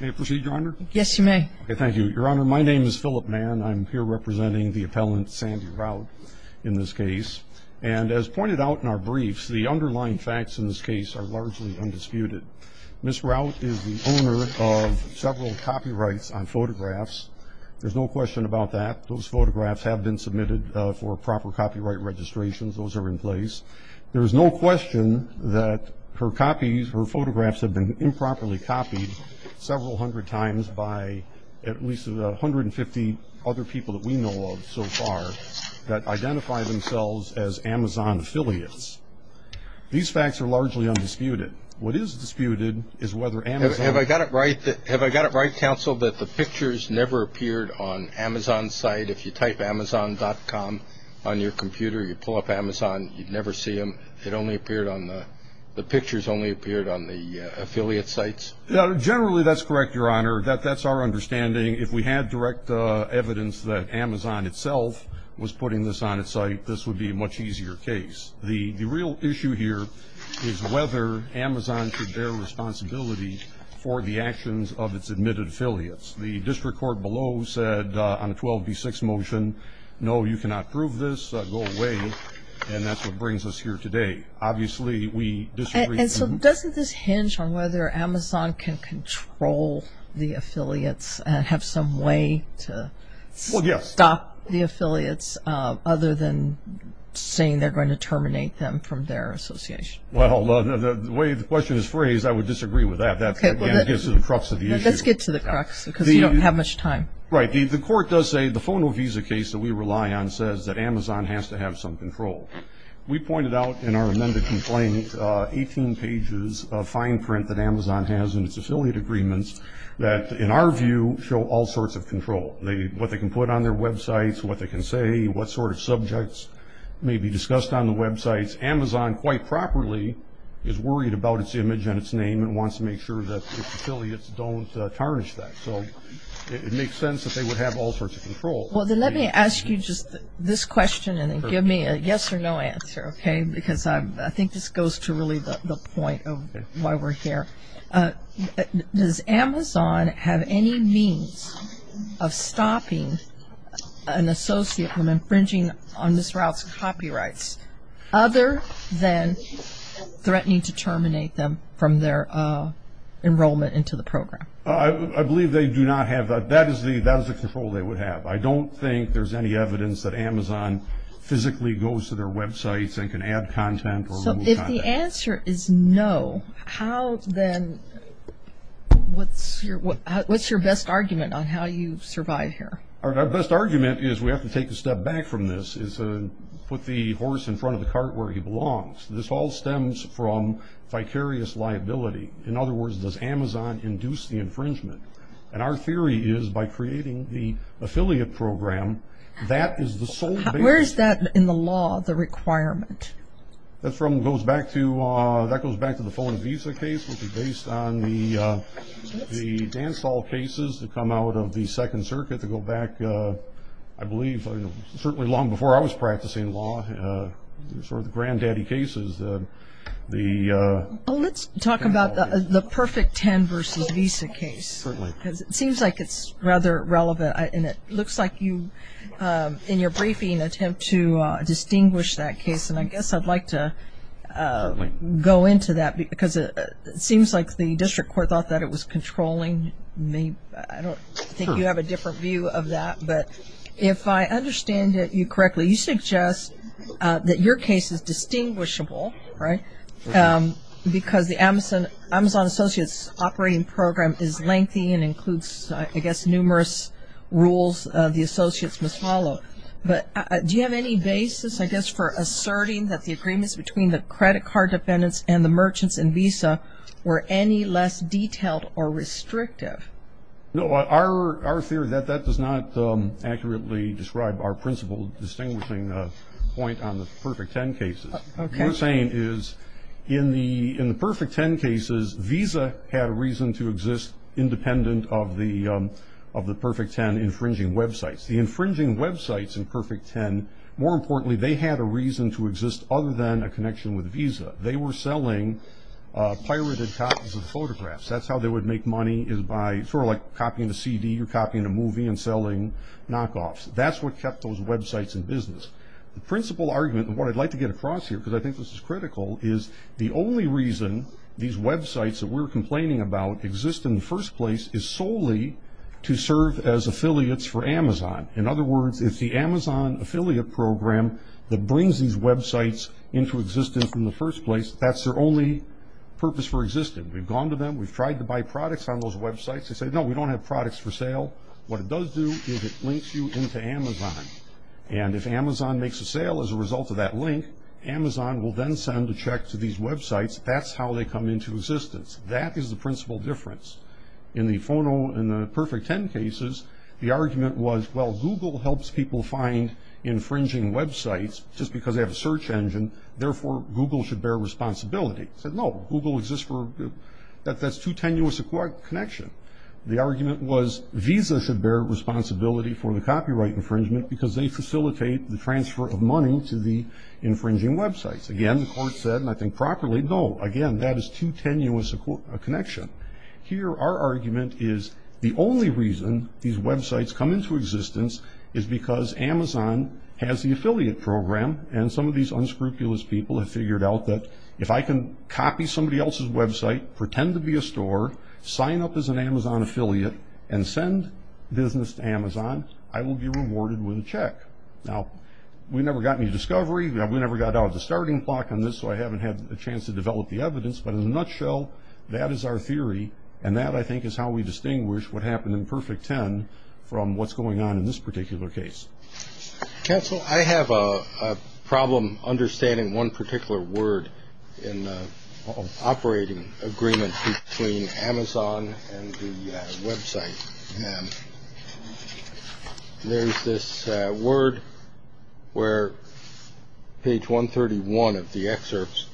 May I proceed, Your Honor? Yes, you may. Thank you. Your Honor, my name is Phillip Mann. I'm here representing the appellant Sandy Routt in this case. And as pointed out in our briefs, the underlying facts in this case are largely undisputed. Ms. Routt is the owner of several copyrights on photographs. There's no question about that. Those photographs have been submitted for proper copyright registration. Those are in place. There's no question that her copies, her photographs have been improperly copied several hundred times by at least 150 other people that we know of so far that identify themselves as Amazon affiliates. These facts are largely undisputed. What is disputed is whether Amazon... Have I got it right, Counsel, that the pictures never appeared on Amazon's site? If you type Amazon.com on your computer, you pull up Amazon, you'd never see them. The pictures only appeared on the affiliate sites? Generally, that's correct, Your Honor. That's our understanding. If we had direct evidence that Amazon itself was putting this on its site, this would be a much easier case. The real issue here is whether Amazon should bear responsibility for the actions of its admitted affiliates. The district court below said on a 12B6 motion, no, you cannot prove this. Go away. And that's what brings us here today. Obviously, we disagree. And so doesn't this hinge on whether Amazon can control the affiliates and have some way to stop the affiliates other than saying they're going to terminate them from their association? Well, the way the question is phrased, I would disagree with that. That, again, gets to the crux of the issue. Let's get to the crux because we don't have much time. Right. The court does say the Fono Visa case that we rely on says that Amazon has to have some control. We pointed out in our amended complaint 18 pages of fine print that Amazon has in its affiliate agreements that, in our view, show all sorts of control, what they can put on their websites, what they can say, what sort of subjects may be discussed on the websites. Amazon, quite properly, is worried about its image and its name and wants to make sure that its affiliates don't tarnish that. So it makes sense that they would have all sorts of control. Well, then let me ask you just this question and then give me a yes or no answer, okay? Because I think this goes to really the point of why we're here. Does Amazon have any means of stopping an associate from infringing on Ms. Rauch's copyrights other than threatening to terminate them from their enrollment into the program? I believe they do not have that. That is the control they would have. I don't think there's any evidence that Amazon physically goes to their websites and can add content or remove content. If the answer is no, what's your best argument on how you survive here? Our best argument is we have to take a step back from this and put the horse in front of the cart where he belongs. This all stems from vicarious liability. In other words, does Amazon induce the infringement? And our theory is by creating the affiliate program, that is the sole basis. Where is that in the law, the requirement? That goes back to the phone and visa case, which is based on the Dansall cases that come out of the Second Circuit that go back, I believe, certainly long before I was practicing law. They're sort of the granddaddy cases. Let's talk about the Perfect Ten versus visa case. Certainly. Because it seems like it's rather relevant, and it looks like you, in your briefing, attempt to distinguish that case. And I guess I'd like to go into that because it seems like the district court thought that it was controlling me. I don't think you have a different view of that. But if I understand you correctly, you suggest that your case is distinguishable, right, because the Amazon Associates operating program is lengthy and includes, I guess, numerous rules the associates must follow. But do you have any basis, I guess, for asserting that the agreements between the credit card defendants and the merchants in visa were any less detailed or restrictive? No. Our theory, that does not accurately describe our principal distinguishing point on the Perfect Ten cases. What we're saying is in the Perfect Ten cases, visa had a reason to exist independent of the Perfect Ten infringing websites. The infringing websites in Perfect Ten, more importantly, they had a reason to exist other than a connection with a visa. They were selling pirated copies of photographs. That's how they would make money is by sort of like copying a CD or copying a movie and selling knockoffs. That's what kept those websites in business. The principal argument, and what I'd like to get across here because I think this is critical, is the only reason these websites that we're complaining about exist in the first place is solely to serve as affiliates for Amazon. In other words, if the Amazon affiliate program that brings these websites into existence in the first place, that's their only purpose for existing. We've gone to them. We've tried to buy products on those websites. They say, no, we don't have products for sale. What it does do is it links you into Amazon. If Amazon makes a sale as a result of that link, Amazon will then send a check to these websites. That's how they come into existence. That is the principal difference. In the Perfect Ten cases, the argument was, well, Google helps people find infringing websites just because they have a search engine. Therefore, Google should bear responsibility. I said, no, Google exists for, that's too tenuous a connection. The argument was Visa should bear responsibility for the copyright infringement because they facilitate the transfer of money to the infringing websites. Again, the court said, and I think properly, no, again, that is too tenuous a connection. Here, our argument is the only reason these websites come into existence is because Amazon has the affiliate program, and some of these unscrupulous people have figured out that if I can copy somebody else's website, pretend to be a store, sign up as an Amazon affiliate, and send business to Amazon, I will be rewarded with a check. Now, we never got any discovery. We never got out of the starting block on this, so I haven't had a chance to develop the evidence, but in a nutshell, that is our theory, and that, I think, is how we distinguish what happened in Perfect Ten from what's going on in this particular case. Counsel, I have a problem understanding one particular word in the operating agreement between Amazon and the website. There's this word where page 131 of the excerpts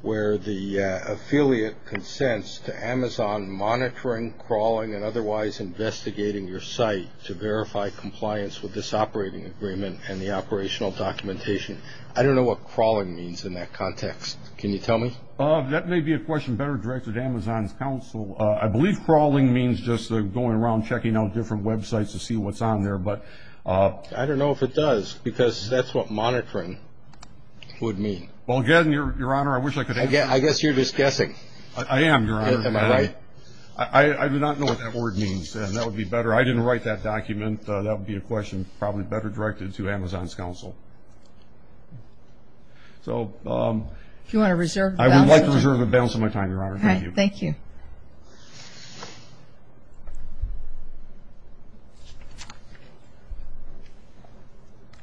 where the affiliate consents to Amazon monitoring, crawling, and otherwise investigating your site to verify compliance with this operating agreement and the operational documentation. I don't know what crawling means in that context. Can you tell me? That may be a question better directed to Amazon's counsel. I believe crawling means just going around, checking out different websites to see what's on there. I don't know if it does, because that's what monitoring would mean. Well, again, Your Honor, I wish I could answer that. I guess you're just guessing. I am, Your Honor. Am I right? I do not know what that word means, and that would be better. I didn't write that document. That would be a question probably better directed to Amazon's counsel. So I would like to reserve the balance of my time, Your Honor. All right. Thank you.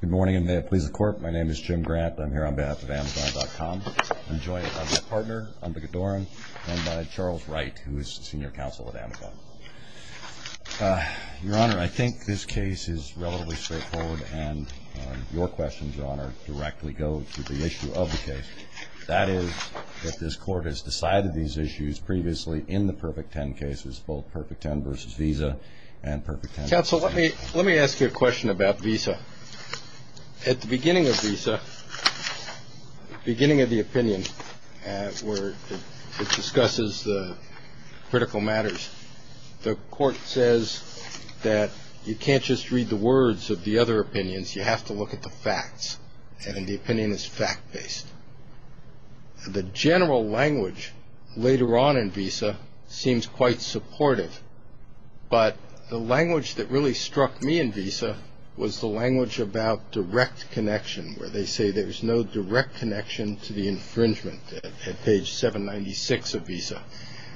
Good morning, and may it please the Court. My name is Jim Grant. I'm here on behalf of Amazon.com. I'm joined by my partner, Ambika Doran, and by Charles Wright, who is the senior counsel at Amazon. Your Honor, I think this case is relatively straightforward, and your questions, Your Honor, directly go to the issue of the case. That is that this Court has decided these issues previously in the Perfect Ten cases, both Perfect Ten v. Visa and Perfect Ten v. Amazon. Counsel, let me ask you a question about Visa. At the beginning of Visa, beginning of the opinion where it discusses the critical matters, the Court says that you can't just read the words of the other opinions. You have to look at the facts, and the opinion is fact-based. The general language later on in Visa seems quite supportive, but the language that really struck me in Visa was the language about direct connection, where they say there's no direct connection to the infringement at page 796 of Visa.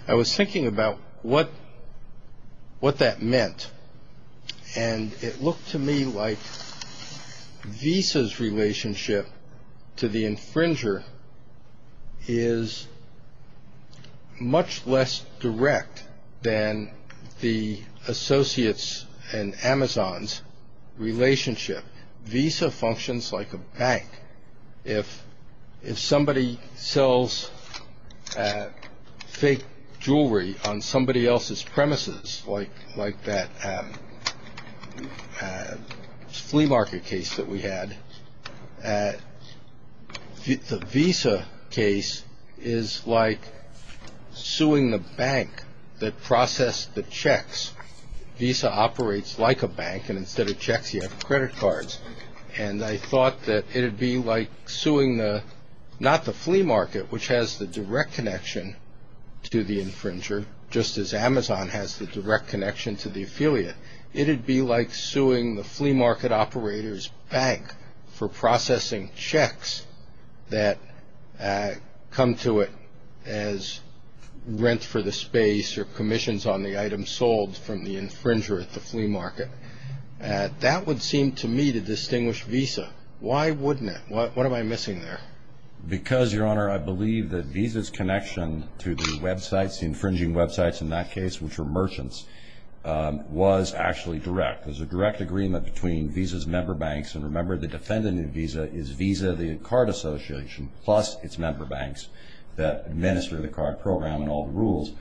I was thinking about what that meant, and it looked to me like Visa's relationship to the infringer is much less direct than the associates and Amazon's relationship. Visa functions like a bank. If somebody sells fake jewelry on somebody else's premises, like that flea market case that we had, the Visa case is like suing the bank that processed the checks. Visa operates like a bank, and instead of checks, you have credit cards. And I thought that it would be like suing not the flea market, which has the direct connection to the infringer, just as Amazon has the direct connection to the affiliate. It would be like suing the flea market operator's bank for processing checks that come to it as rent for the space or commissions on the items sold from the infringer at the flea market. That would seem to me to distinguish Visa. Why wouldn't it? What am I missing there? Because, Your Honor, I believe that Visa's connection to the websites, the infringing websites in that case, which were merchants, was actually direct. There's a direct agreement between Visa's member banks. And remember, the defendant in Visa is Visa, the card association, plus its member banks that administer the card program and all the rules.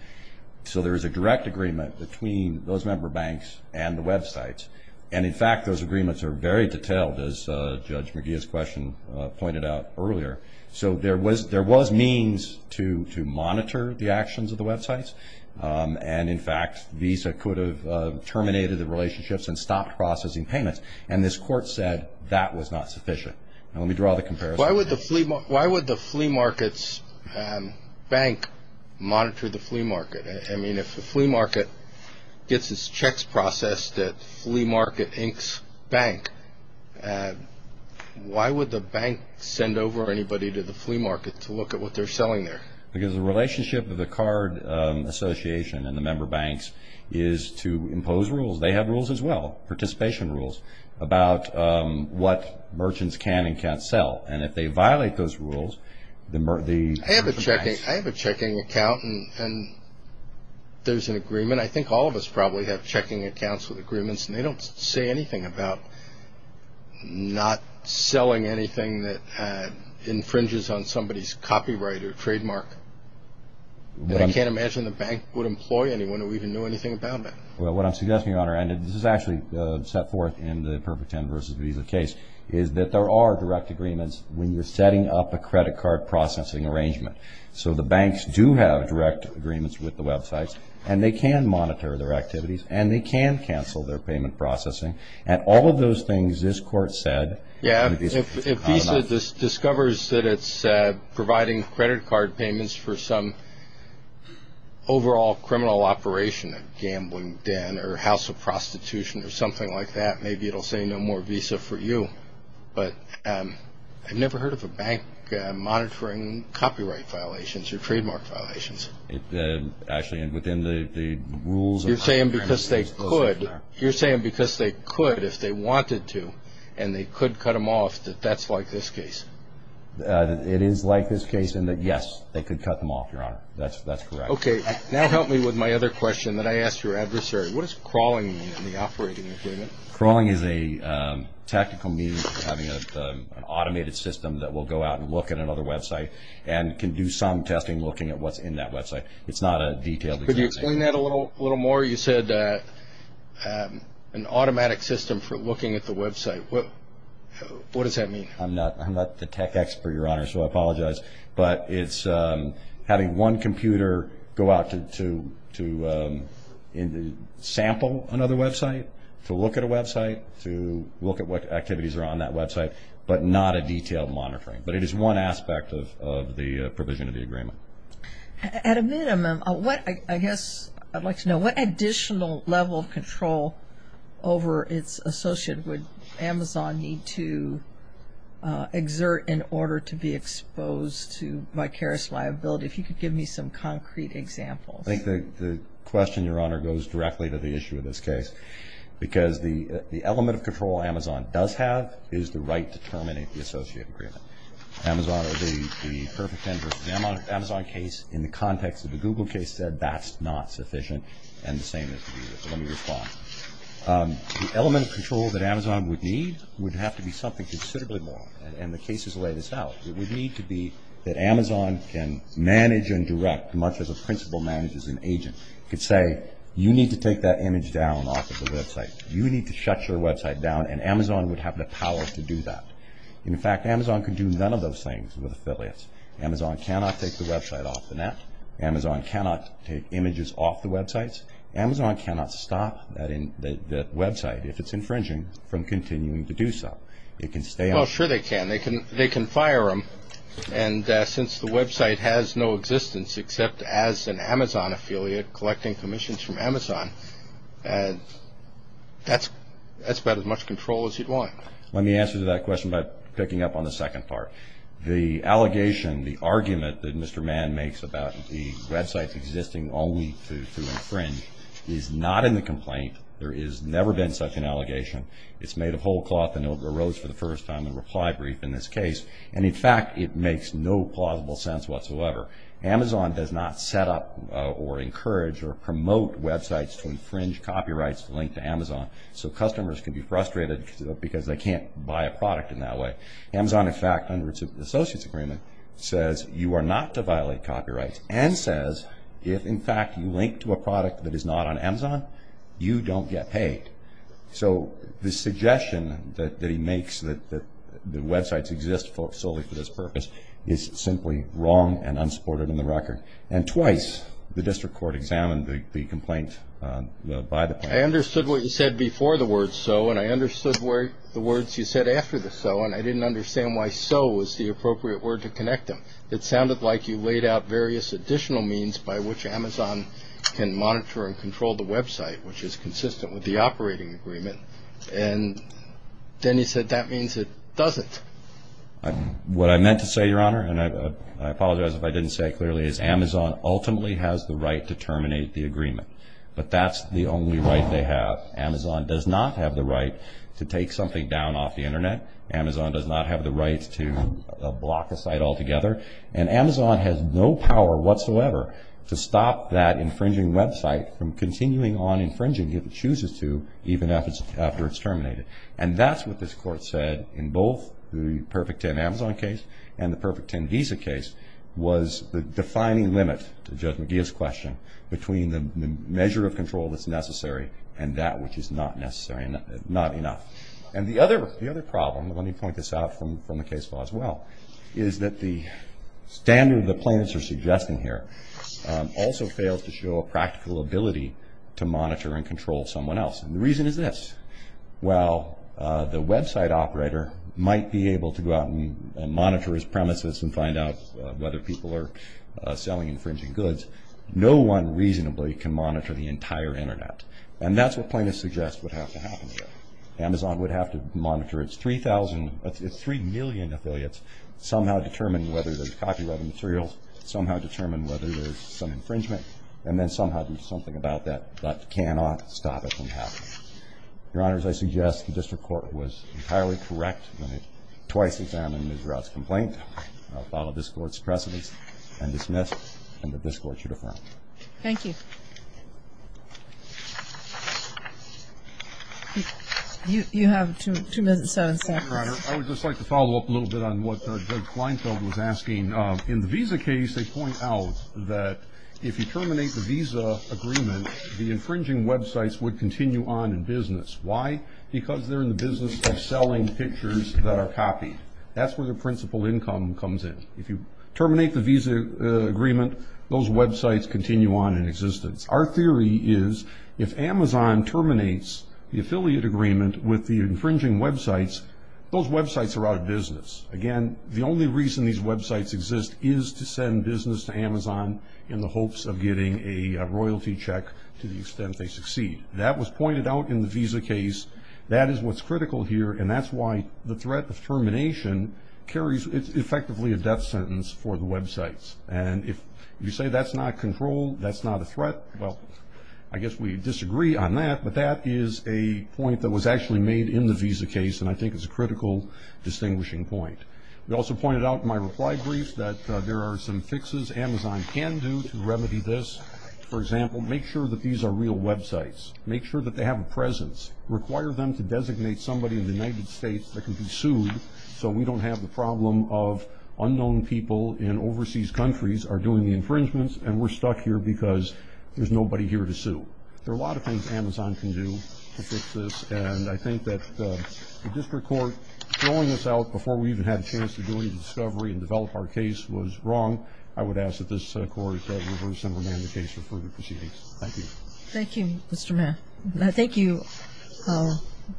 So there is a direct agreement between those member banks and the websites. And, in fact, those agreements are very detailed, as Judge McGeeh's question pointed out earlier. So there was means to monitor the actions of the websites. And, in fact, Visa could have terminated the relationships and stopped processing payments. And this Court said that was not sufficient. Now let me draw the comparison. Why would the flea market's bank monitor the flea market? I mean, if the flea market gets its checks processed at Flea Market Inc.'s bank, why would the bank send over anybody to the flea market to look at what they're selling there? Because the relationship of the card association and the member banks is to impose rules. They have rules as well, participation rules, about what merchants can and can't sell. And if they violate those rules, the mer- I have a checking account, and there's an agreement. I think all of us probably have checking accounts with agreements, and they don't say anything about not selling anything that infringes on somebody's copyright or trademark. And I can't imagine the bank would employ anyone who even knew anything about that. Well, what I'm suggesting, Your Honor, and this is actually set forth in the Perfect Ten versus Visa case, is that there are direct agreements when you're setting up a credit card processing arrangement. So the banks do have direct agreements with the websites, and they can monitor their activities, and they can cancel their payment processing. And all of those things this Court said- Yeah, if Visa discovers that it's providing credit card payments for some overall criminal operation, a gambling den or a house of prostitution or something like that, maybe it'll say no more Visa for you. But I've never heard of a bank monitoring copyright violations or trademark violations. Actually, within the rules of- You're saying because they could, if they wanted to, and they could cut them off, that that's like this case? It is like this case in that, yes, they could cut them off, Your Honor. That's correct. Okay. Now help me with my other question that I asked your adversary. What does crawling mean in the operating agreement? Crawling is a tactical means of having an automated system that will go out and look at another website and can do some testing looking at what's in that website. It's not a detailed- Could you explain that a little more? You said an automatic system for looking at the website. What does that mean? I'm not the tech expert, Your Honor, so I apologize. But it's having one computer go out to sample another website, to look at a website, to look at what activities are on that website, but not a detailed monitoring. But it is one aspect of the provision of the agreement. At a minimum, I guess I'd like to know, what additional level of control over its associate would Amazon need to exert in order to be exposed to vicarious liability? If you could give me some concrete examples. I think the question, Your Honor, goes directly to the issue of this case because the element of control Amazon does have is the right to terminate the associate agreement. The Amazon case, in the context of the Google case, said that's not sufficient. Let me respond. The element of control that Amazon would need would have to be something considerably more. And the case is laid out. It would need to be that Amazon can manage and direct much as a principal manages an agent. It could say, you need to take that image down off of the website. You need to shut your website down, and Amazon would have the power to do that. In fact, Amazon could do none of those things with affiliates. Amazon cannot take the website off the net. Amazon cannot take images off the websites. Amazon cannot stop that website, if it's infringing, from continuing to do so. It can stay on. Well, sure they can. They can fire them. And since the website has no existence except as an Amazon affiliate collecting commissions from Amazon, that's about as much control as you'd want. Let me answer that question by picking up on the second part. The allegation, the argument that Mr. Mann makes about the website existing only to infringe is not in the complaint. There has never been such an allegation. It's made of whole cloth, and it arose for the first time in a reply brief in this case. And, in fact, it makes no plausible sense whatsoever. Amazon does not set up or encourage or promote websites to infringe copyrights linked to Amazon, so customers can be frustrated because they can't buy a product in that way. Amazon, in fact, under its associates agreement, says you are not to violate copyrights and says if, in fact, you link to a product that is not on Amazon, you don't get paid. So the suggestion that he makes that websites exist solely for this purpose is simply wrong and unsupported in the record. And twice the district court examined the complaint by the plaintiff. I understood what you said before the word so, and I understood the words you said after the so, and I didn't understand why so was the appropriate word to connect them. It sounded like you laid out various additional means by which Amazon can monitor and control the website, which is consistent with the operating agreement. And then he said that means it doesn't. What I meant to say, Your Honor, and I apologize if I didn't say it clearly, is Amazon ultimately has the right to terminate the agreement, but that's the only right they have. Amazon does not have the right to take something down off the Internet. Amazon does not have the right to block a site altogether. And Amazon has no power whatsoever to stop that infringing website from continuing on infringing if it chooses to, even after it's terminated. And that's what this Court said in both the Perfect Ten Amazon case and the Perfect Ten Visa case was the defining limit, to Judge McGeeh's question, between the measure of control that's necessary and that which is not necessary and not enough. And the other problem, let me point this out from the case law as well, is that the standard that plaintiffs are suggesting here also fails to show a practical ability to monitor and control someone else. And the reason is this. While the website operator might be able to go out and monitor his premises and find out whether people are selling infringing goods, no one reasonably can monitor the entire Internet. And that's what plaintiffs suggest would have to happen here. Amazon would have to monitor its 3,000, its 3 million affiliates, somehow determine whether there's copyrighted materials, somehow determine whether there's some infringement, and then somehow do something about that that cannot stop it from happening. Your Honors, I suggest the District Court was entirely correct when it twice examined Ms. Raut's complaint. I'll follow this Court's precedents and dismiss it, and that this Court should affirm. Thank you. You have two minutes and seven seconds. Your Honor, I would just like to follow up a little bit on what Judge Kleinfeld was asking. In the visa case, they point out that if you terminate the visa agreement, the infringing websites would continue on in business. Why? Because they're in the business of selling pictures that are copied. That's where the principal income comes in. If you terminate the visa agreement, those websites continue on in existence. Our theory is if Amazon terminates the affiliate agreement with the infringing websites, those websites are out of business. Again, the only reason these websites exist is to send business to Amazon in the hopes of getting a royalty check to the extent they succeed. That was pointed out in the visa case. That is what's critical here, and that's why the threat of termination carries effectively a death sentence for the websites. If you say that's not control, that's not a threat, well, I guess we disagree on that, but that is a point that was actually made in the visa case, and I think it's a critical distinguishing point. We also pointed out in my reply brief that there are some fixes Amazon can do to remedy this. For example, make sure that these are real websites. Make sure that they have a presence. Require them to designate somebody in the United States that can be sued so we don't have the problem of unknown people in overseas countries are doing the infringements, and we're stuck here because there's nobody here to sue. There are a lot of things Amazon can do to fix this, and I think that the district court throwing this out before we even had a chance to do any discovery and develop our case was wrong. I would ask that this court reverse and remand the case for further proceedings. Thank you. Thank you, Mr. Mahan. Thank you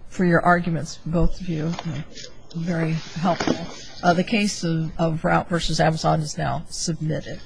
for your arguments, both of you. Very helpful. The case of Routt v. Amazon is now submitted.